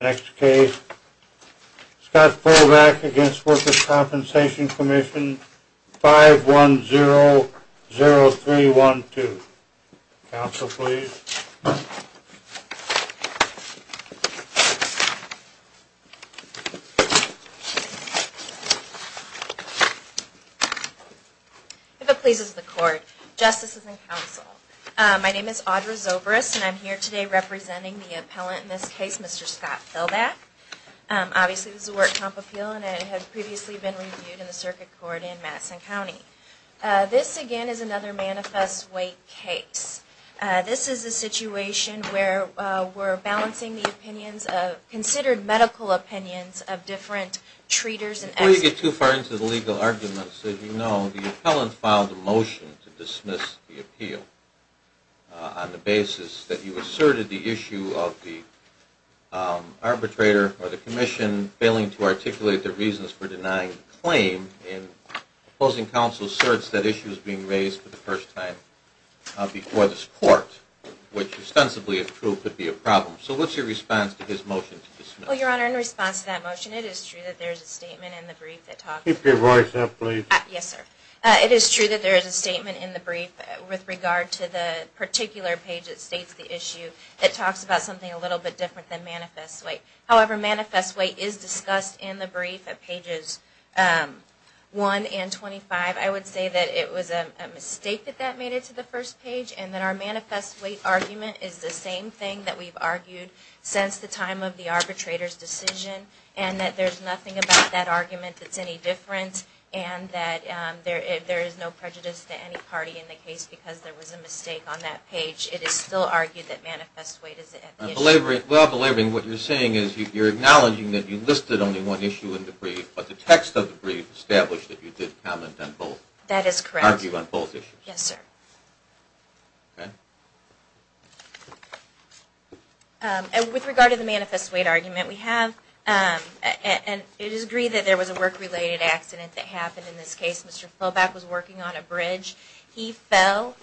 Next case, Scott Fulvack v Workers' Compensation Commission 5100312. Counsel, please. If it pleases the Court, Justices and Counsel, my name is Audra Zobris, and I'm here today representing the appellant in this case, Mr. Scott Fulvack. Obviously, this is a Workers' Comp appeal, and it had previously been reviewed in the Circuit Court in Madison County. This, again, is another manifest weight case. This is a situation where we're balancing the opinions, considered medical opinions, of different treaters and experts. If you get too far into the legal arguments, as you know, the appellant filed a motion to dismiss the appeal on the basis that you asserted the issue of the arbitrator or the commission failing to articulate their reasons for denying the claim. Opposing counsel asserts that issue is being raised for the first time before this Court, which, ostensibly, if true, could be a problem. So what's your response to his motion to dismiss? Well, Your Honor, in response to that motion, it is true that there is a statement in the brief that talks about Keep your voice up, please. Yes, sir. It is true that there is a statement in the brief with regard to the particular page that states the issue that talks about something a little bit different than manifest weight. However, manifest weight is discussed in the brief at pages 1 and 25. I would say that it was a mistake that that made it to the first page, and that our manifest weight argument is the same thing that we've argued since the time of the arbitrator's decision, and that there's nothing about that argument that's any different, and that there is no prejudice to any party in the case because there was a mistake on that page. It is still argued that manifest weight is an issue. Well, Belabrine, what you're saying is you're acknowledging that you listed only one issue in the brief, but the text of the brief established that you did comment on both. That is correct. Yes, sir. With regard to the manifest weight argument, we have – and it is agreed that there was a work-related accident that happened in this case. Mr. Fobak was working on a bridge. He fell,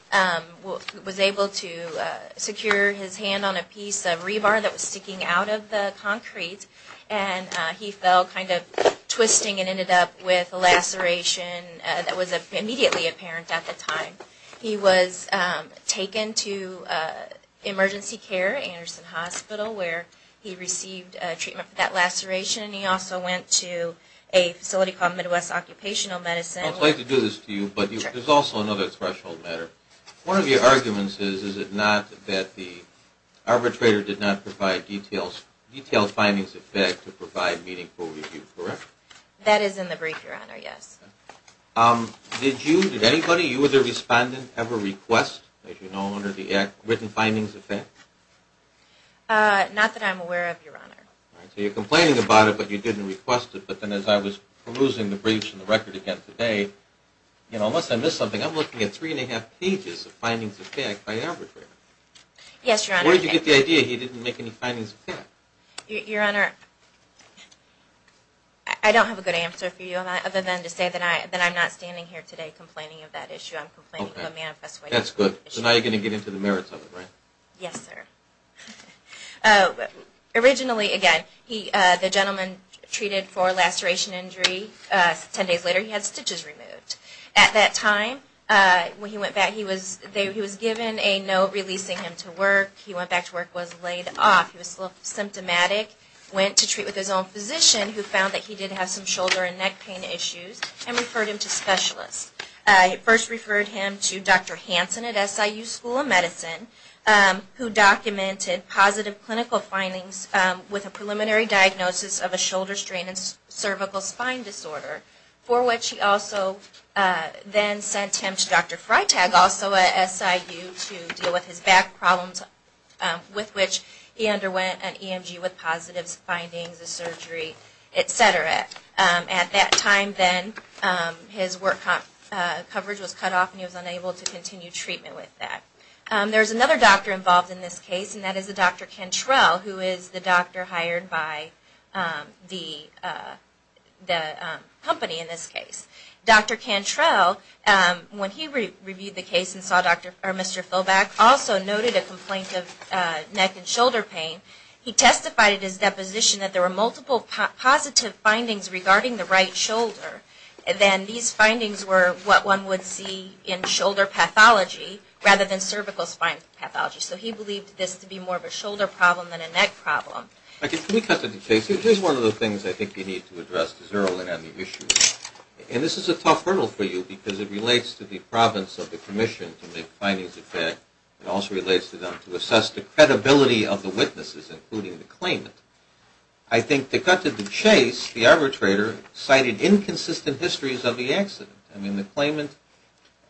was able to secure his hand on a piece of rebar that was sticking out of the concrete, and he fell kind of twisting and ended up with a laceration that was immediately apparent at the time. He was taken to emergency care, Anderson Hospital, where he received treatment for that laceration, and he also went to a facility called Midwest Occupational Medicine. I would like to do this to you, but there's also another threshold matter. One of your arguments is, is it not that the arbitrator did not provide detailed findings of fact to provide meaningful review, correct? That is in the brief, Your Honor, yes. Did anybody, you or the respondent, ever request, as you know, under the written findings of fact? Not that I'm aware of, Your Honor. So you're complaining about it, but you didn't request it. But then as I was perusing the briefs and the record again today, you know, unless I missed something, I'm looking at three and a half pages of findings of fact by the arbitrator. Yes, Your Honor. Where did you get the idea he didn't make any findings of fact? Your Honor, I don't have a good answer for you other than to say that I'm not standing here today complaining of that issue. I'm complaining of a manifest way. That's good. So now you're going to get into the merits of it, right? Yes, sir. Originally, again, the gentleman treated for a laceration injury, 10 days later he had stitches removed. At that time, when he went back, he was given a note releasing him to work. He went back to work, was laid off. He was symptomatic, went to treat with his own physician, who found that he did have some shoulder and neck pain issues, and referred him to specialists. First referred him to Dr. Hansen at SIU School of Medicine, who documented positive clinical findings with a preliminary diagnosis of a shoulder strain and cervical spine disorder, for which he also then sent him to Dr. Freitag, also at SIU, to deal with his back problems, with which he underwent an EMG with positive findings, a surgery, et cetera. At that time, then, his work coverage was cut off and he was unable to continue treatment with that. There's another doctor involved in this case, and that is a Dr. Cantrell, who is the doctor hired by the company in this case. Dr. Cantrell, when he reviewed the case and saw Dr. or Mr. Philback, also noted a complaint of neck and shoulder pain. He testified at his deposition that there were multiple positive findings regarding the right shoulder. Then these findings were what one would see in shoulder pathology rather than cervical spine pathology. So he believed this to be more of a shoulder problem than a neck problem. Can we cut to the chase? Here's one of the things I think you need to address to zero in on the issue. This is a tough hurdle for you because it relates to the province of the commission to make findings of that. It also relates to them to assess the credibility of the witnesses, including the claimant. I think to cut to the chase, the arbitrator cited inconsistent histories of the accident. I mean, the claimant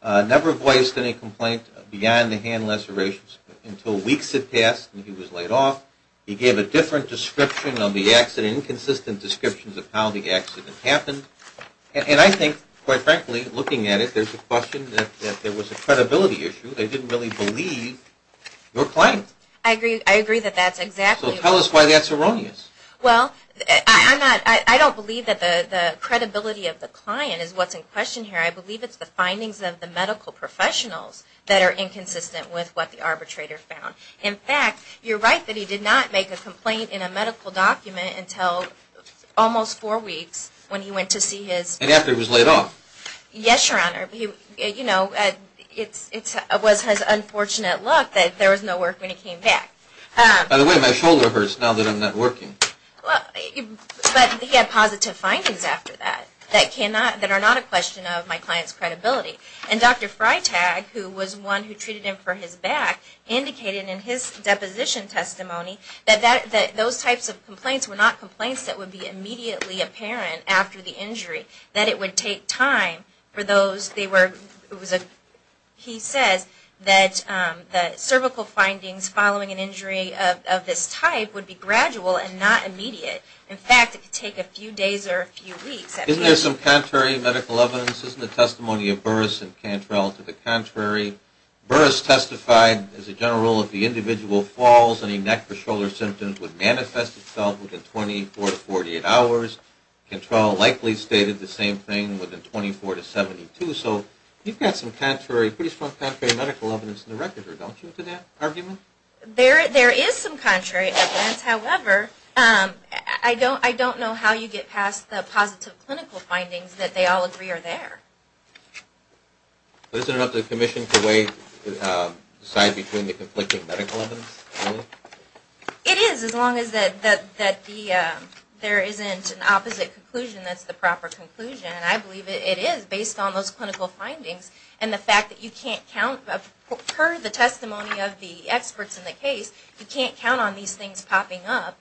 never voiced any complaint beyond the hand lacerations until weeks had passed and he was laid off. He gave a different description of the accident, inconsistent descriptions of how the accident happened. And I think, quite frankly, looking at it, there's a question that there was a credibility issue. They didn't really believe your claim. I agree. I agree that that's exactly... So tell us why that's erroneous. Well, I don't believe that the credibility of the client is what's in question here. I believe it's the findings of the medical professionals that are inconsistent with what the arbitrator found. In fact, you're right that he did not make a complaint in a medical document until almost four weeks when he went to see his... And after he was laid off. Yes, Your Honor. You know, it was his unfortunate luck that there was no work when he came back. By the way, my shoulder hurts now that I'm not working. But he had positive findings after that that are not a question of my client's credibility. And Dr. Freitag, who was the one who treated him for his back, indicated in his deposition testimony that those types of complaints were not complaints that would be immediately apparent after the injury, that it would take time for those... He says that the cervical findings following an injury of this type would be gradual and not immediate. In fact, it could take a few days or a few weeks. Isn't there some contrary medical evidence? Isn't the testimony of Burris and Cantrell to the contrary? Burris testified as a general rule if the individual falls and he neck or shoulder symptoms would manifest itself within 24 to 48 hours. Cantrell likely stated the same thing within 24 to 72. So you've got some pretty strong contrary medical evidence in the record, don't you, to that argument? There is some contrary evidence. However, I don't know how you get past the positive clinical findings that they all agree are there. But isn't it up to the Commission to decide between the conflicting medical evidence? It is as long as there isn't an opposite conclusion that's the proper conclusion. And I believe it is based on those clinical findings and the fact that you can't count per the testimony of the experts in the case, you can't count on these things popping up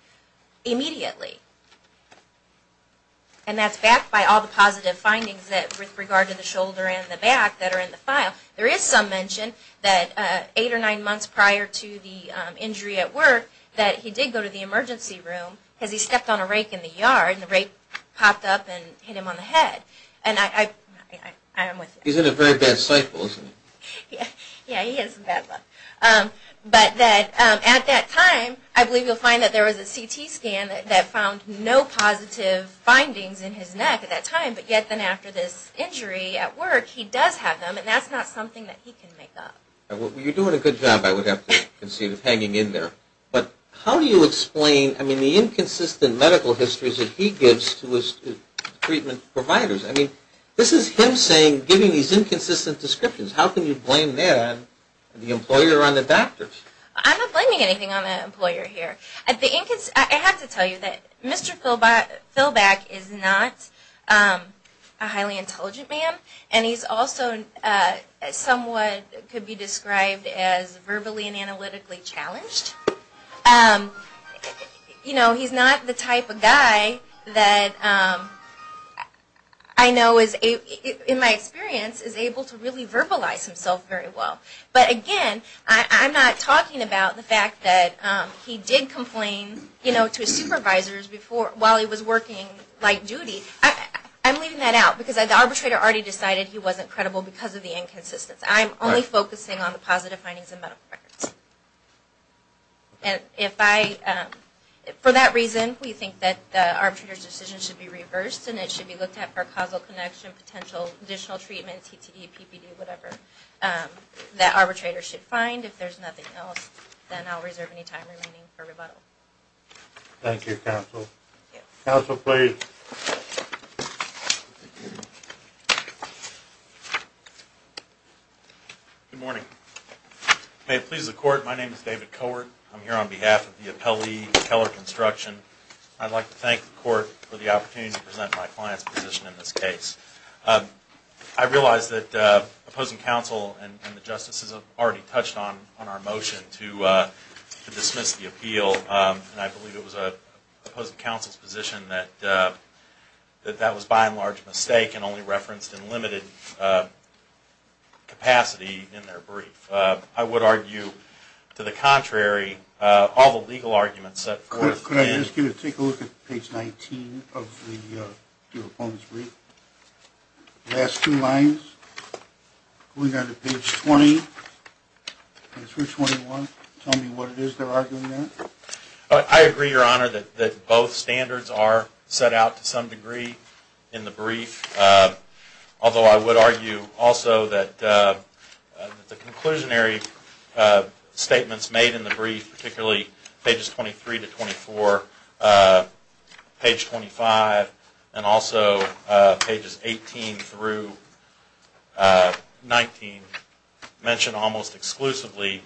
immediately. And that's backed by all the positive findings with regard to the shoulder and the back that are in the file. There is some mention that eight or nine months prior to the injury at work that he did go to the emergency room because he stepped on a rake in the yard and the rake popped up and hit him on the head. And I'm with you. He's in a very bad cycle, isn't he? Yeah, he is in bad luck. But at that time I believe you'll find that there was a CT scan that found no positive findings in his neck at that time. But yet then after this injury at work, he does have them and that's not something that he can make up. You're doing a good job, I would have to concede, of hanging in there. But how do you explain, I mean, the inconsistent medical histories that he gives to his treatment providers? I mean, this is him saying, giving these inconsistent descriptions. How can you blame that on the employer or on the doctors? I'm not blaming anything on the employer here. I have to tell you that Mr. Philback is not a highly intelligent man and he's also somewhat could be described as verbally and analytically challenged. You know, he's not the type of guy that I know, in my experience, is able to really verbalize himself very well. But again, I'm not talking about the fact that he did complain to his supervisors while he was working light duty. I'm leaving that out because the arbitrator already decided he wasn't credible because of the inconsistency. I'm only focusing on the positive findings in medical records. For that reason, we think that the arbitrator's decision should be reversed and it should be looked at for causal connection, potential additional treatment, CTD, PPD, whatever. That arbitrator should find. If there's nothing else, then I'll reserve any time remaining for rebuttal. Thank you, counsel. Counsel, please. Good morning. May it please the court, my name is David Cohort. I'm here on behalf of the appellee, Keller Construction. I'd like to thank the court for the opportunity to present my client's position in this case. I realize that opposing counsel and the justices have already touched on our motion to dismiss the appeal. And I believe it was opposing counsel's position that that was by and large a mistake and only referenced in limited capacity in their brief. I would argue, to the contrary, all the legal arguments set forth in... Last two lines. We go to page 20. Page 21. Tell me what it is they're arguing there. I agree, your honor, that both standards are set out to some degree in the brief. Although I would argue also that the conclusionary statements made in the brief, particularly pages 23 to 24, page 25, and also pages 18 through 19, mention almost exclusively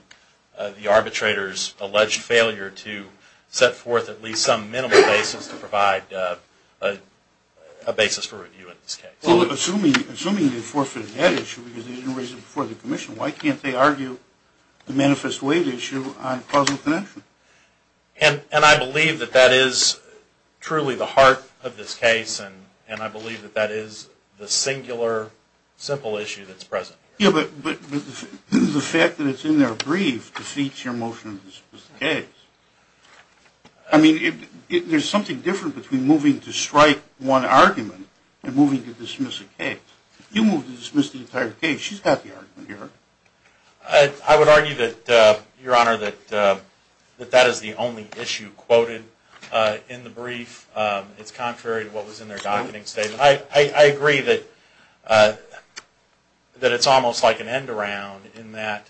the arbitrator's alleged failure to set forth at least some minimal basis to provide a basis for review in this case. Well, assuming they forfeited that issue because they didn't raise it before the commission, why can't they argue the manifest waive issue on causal connection? And I believe that that is truly the heart of this case, and I believe that that is the singular simple issue that's present here. Yeah, but the fact that it's in their brief defeats your motion to dismiss the case. I mean, there's something different between moving to strike one argument and moving to dismiss a case. If you move to dismiss the entire case, she's got the argument here. I would argue that, your honor, that that is the only issue quoted in the brief. It's contrary to what was in their docketing statement. I agree that it's almost like an end around in that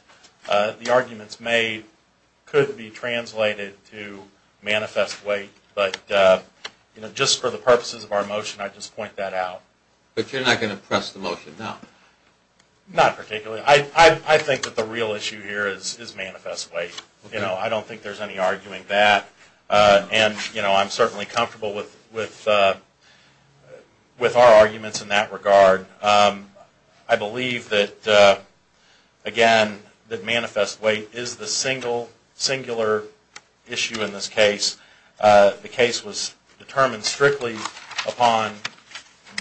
the arguments made could be translated to manifest wait, but just for the purposes of our motion, I'd just point that out. But you're not going to press the motion now? Not particularly. I think that the real issue here is manifest wait. I don't think there's any arguing that, and I'm certainly comfortable with our arguments in that regard. I believe that, again, that manifest wait is the singular issue in this case. The case was determined strictly upon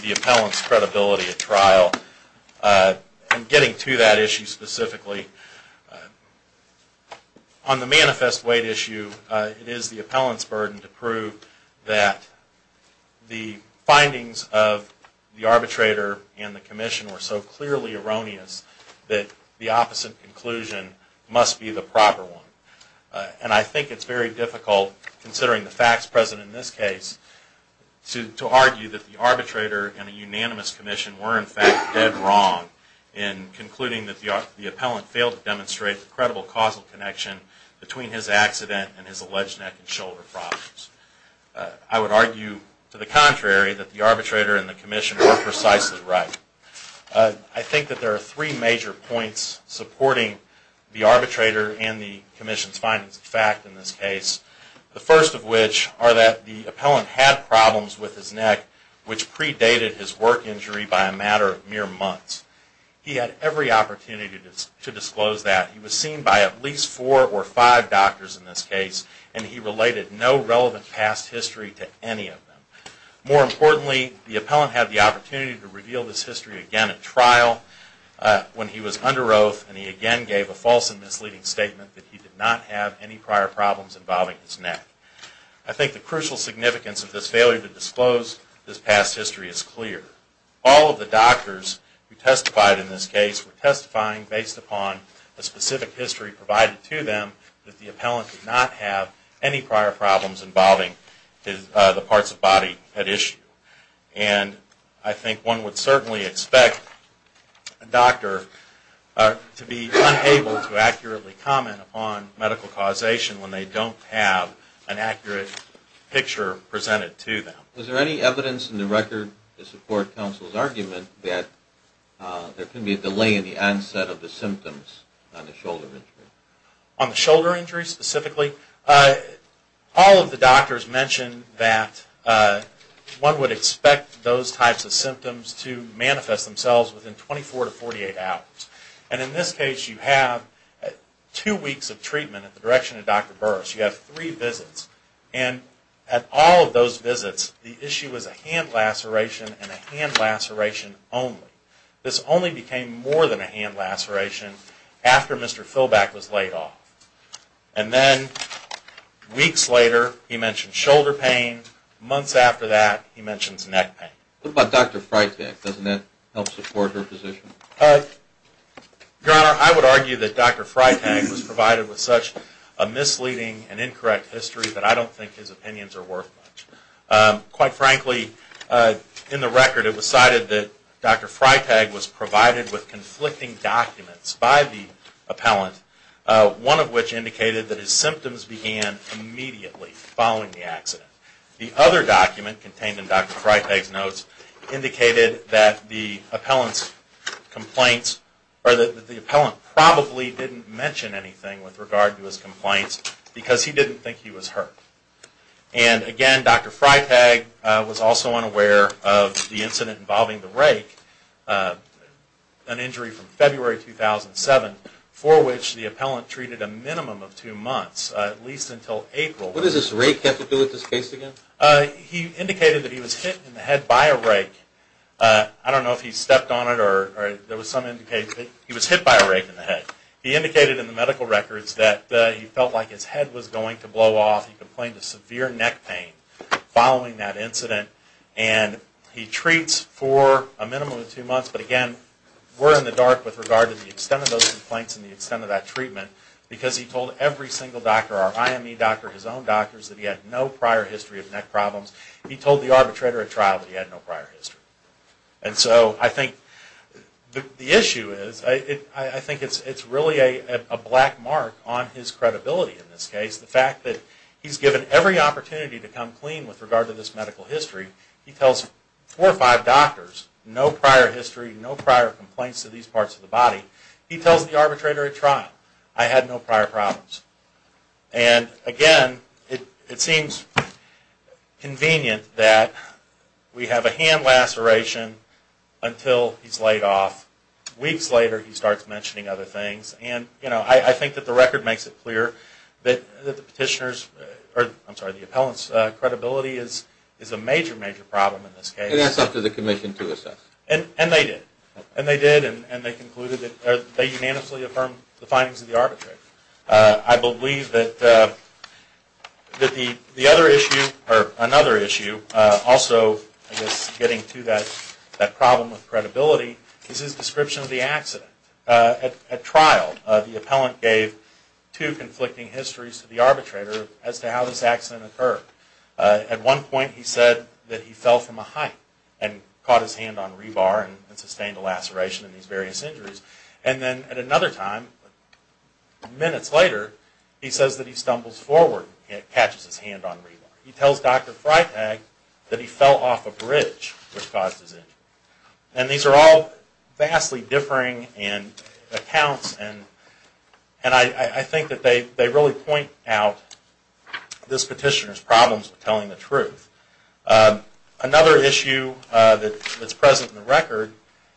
the appellant's credibility at trial. And getting to that issue specifically, on the manifest wait issue, it is the appellant's burden to prove that the findings of the arbitrator and the commission were so clearly erroneous that the opposite conclusion must be the proper one. And I think it's very difficult, considering the facts present in this case, to argue that the arbitrator and the unanimous commission were, in fact, dead wrong in concluding that the appellant failed to demonstrate the credible causal connection between his accident and his alleged neck and shoulder problems. I would argue, to the contrary, that the arbitrator and the commission were precisely right. I think that there are three major points supporting the arbitrator and the commission's findings of fact in this case. The first of which are that the appellant had problems with his neck, which predated his work injury by a matter of mere months. He had every opportunity to disclose that. He was seen by at least four or five doctors in this case, and he related no relevant past history to any of them. More importantly, the appellant had the opportunity to reveal this history again at trial when he was under oath, and he again gave a false and misleading statement that he did not have any prior problems involving his neck. I think the crucial significance of this failure to disclose this past history is clear. All of the doctors who testified in this case were testifying based upon the specific history provided to them that the appellant did not have any prior problems involving the parts of the body at issue. And I think one would certainly expect a doctor to be unable to accurately comment upon medical causation when they don't have an accurate picture presented to them. Was there any evidence in the record to support counsel's argument that there can be a delay in the onset of the symptoms on the shoulder injury? On the shoulder injury specifically? All of the doctors mentioned that one would expect those types of symptoms to manifest themselves within 24 to 48 hours. And in this case you have two weeks of treatment at the direction of Dr. Burris. You have three visits, and at all of those visits the issue was a hand laceration and a hand laceration only. This only became more than a hand laceration after Mr. Philback was laid off. And then weeks later he mentioned shoulder pain. Months after that he mentions neck pain. What about Dr. Freitag? Doesn't that help support her position? Your Honor, I would argue that Dr. Freitag was provided with such a misleading and incorrect history that I don't think his opinions are worth much. Quite frankly, in the record it was cited that Dr. Freitag was provided with conflicting documents by the appellant, one of which indicated that his symptoms began immediately following the accident. The other document contained in Dr. Freitag's notes indicated that the appellant's complaints, or that the appellant probably didn't mention anything with regard to his complaints because he didn't think he was hurt. And again, Dr. Freitag was also unaware of the incident involving the rake, an injury from February 2007, for which the appellant treated a minimum of two months, at least until April. What does this rake have to do with this case again? He indicated that he was hit in the head by a rake. I don't know if he stepped on it or there was some indication. He was hit by a rake in the head. He indicated in the medical records that he felt like his head was going to blow off. He complained of severe neck pain following that incident. And he treats for a minimum of two months, but again, we're in the dark with regard to the extent of those complaints and the extent of that treatment because he told every single doctor, our IME doctor, his own doctors, that he had no prior history of neck problems. He told the arbitrator at trial that he had no prior history. And so I think the issue is, I think it's really a black mark on his record. He's given every opportunity to come clean with regard to this medical history. He tells four or five doctors, no prior history, no prior complaints to these parts of the body. He tells the arbitrator at trial, I had no prior problems. And again, it seems convenient that we have a hand laceration until he's laid off. Weeks later, he starts mentioning other things. And, you know, I think that the record makes it clear that the petitioner's or, I'm sorry, the appellant's credibility is a major, major problem in this case. And that's up to the commission to assess. And they did. And they did. And they concluded that they unanimously affirmed the findings of the arbitrator. I believe that the other issue, or another issue, also, I guess, getting to that problem of credibility, is his description of the accident. At trial, the appellant gave two conflicting histories to the arbitrator as to how this accident occurred. At one point, he said that he fell from a height and caught his hand on rebar and sustained a laceration in these various injuries. And then at another time, minutes later, he says that he stumbles forward and catches his hand on rebar. He tells Dr. Freitag that he fell off a bridge which caused his injury. And these are all vastly differing accounts. And I think that they really point out this petitioner's problems with telling the truth. Another issue that's present in the record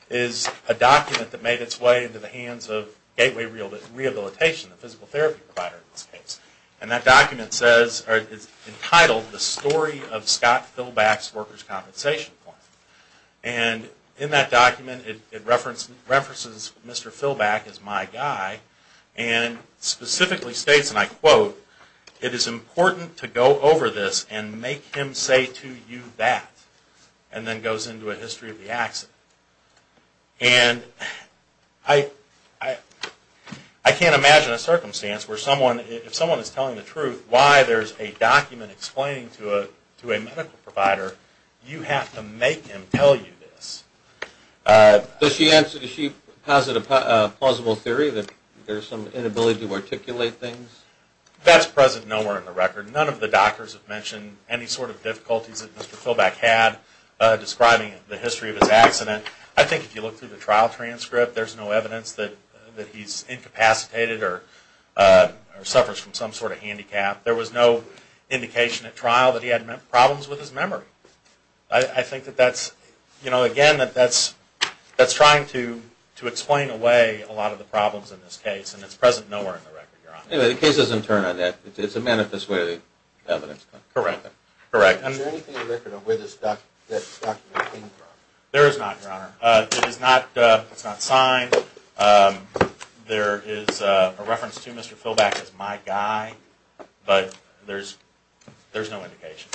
is a document that made its way into the hands of Gateway Rehabilitation, the physical therapy provider in this case. And that document says, or is entitled, The Story of Scott Philback's Workers' Compensation Plan. And in that document, it references Mr. Philback as my guy and specifically states, and I quote, it is important to go over this and make him say to you that. And then goes into a history of the accident. And I can't imagine a circumstance where someone, if someone is telling the truth, you have to make him tell you this. Does she answer, does she posit a plausible theory that there's some inability to articulate things? That's present nowhere in the record. None of the doctors have mentioned any sort of difficulties that Mr. Philback had describing the history of his accident. I think if you look through the trial transcript, there's no evidence that he's incapacitated or suffers from some sort of handicap. There was no indication at trial that he had problems with his memory. I think that that's, you know, again, that's trying to explain away a lot of the problems in this case. And it's present nowhere in the record, Your Honor. Anyway, the case doesn't turn on that. It's a manifest way of evidence. Correct. Correct. Is there anything in the record of where this document came from? There is not, Your Honor. It's not signed. There is a reference to Mr. Philback as my guy. But there's no indication.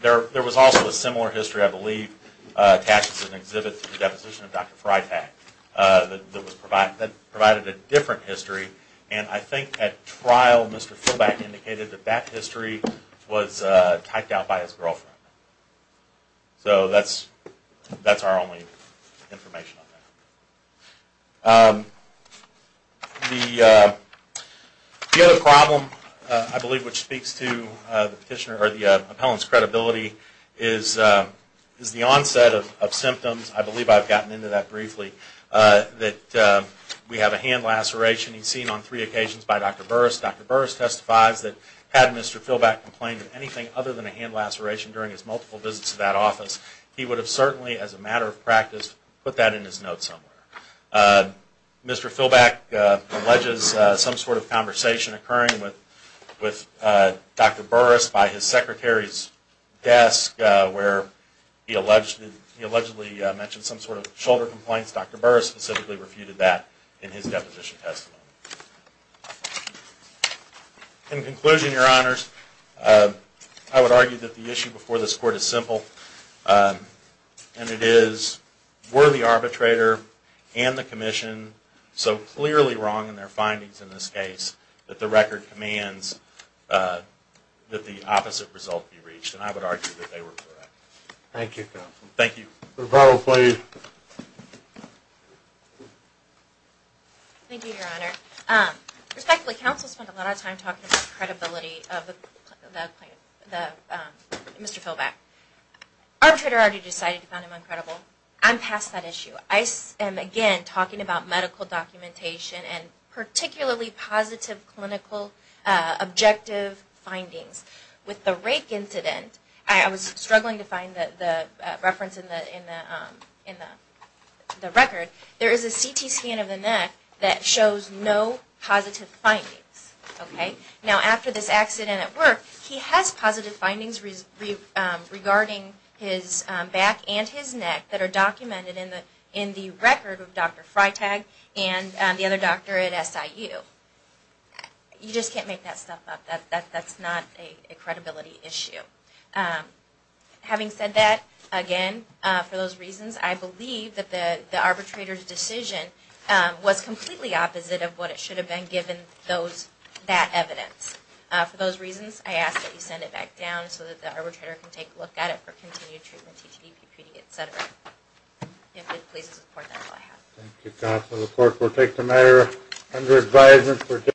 There was also a similar history, I believe, attached to an exhibit to the deposition of Dr. Freitag that provided a different history. And I think at trial Mr. Philback indicated that that history was typed out by his girlfriend. So that's our only information on that. The other problem, I believe, which speaks to the petitioner or the appellant's credibility is the onset of symptoms. I believe I've gotten into that briefly, that we have a hand laceration. He's seen on three occasions by Dr. Burris. Dr. Burris testifies that had Mr. Philback complained of anything other than a hand laceration during his multiple visits to that office, he would have certainly, as a matter of practice, put that in his note somewhere. Mr. Philback alleges some sort of conversation occurring with Dr. Burris by his secretary's desk where he allegedly mentioned some sort of shoulder complaints. Dr. Burris specifically refuted that in his deposition testimony. In conclusion, Your Honors, I would argue that the issue before this court is simple, and it is, were the arbitrator and the commission so clearly wrong in their findings in this case that the record commands that the opposite result be reached? And I would argue that they were correct. Thank you. Rebuttal, please. Thank you, Your Honor. Respectfully, counsel spent a lot of time talking about credibility of Mr. Philback. Arbitrator already decided to find him uncredible. I'm past that issue. I am, again, talking about medical documentation and particularly positive clinical objective findings. The record, there is a CT scan of the neck that shows no positive findings. Now, after this accident at work, he has positive findings regarding his back and his neck that are documented in the record of Dr. Freitag and the other doctor at SIU. You just can't make that stuff up. That's not a credibility issue. Having said that, again, for those reasons, I believe that the arbitrator's decision was completely opposite of what it should have been given that evidence. For those reasons, I ask that you send it back down so that the arbitrator can take a look at it for continued treatment, etc. If it pleases the court, that's all I have. Thank you, counsel. The court will take the matter under advisement.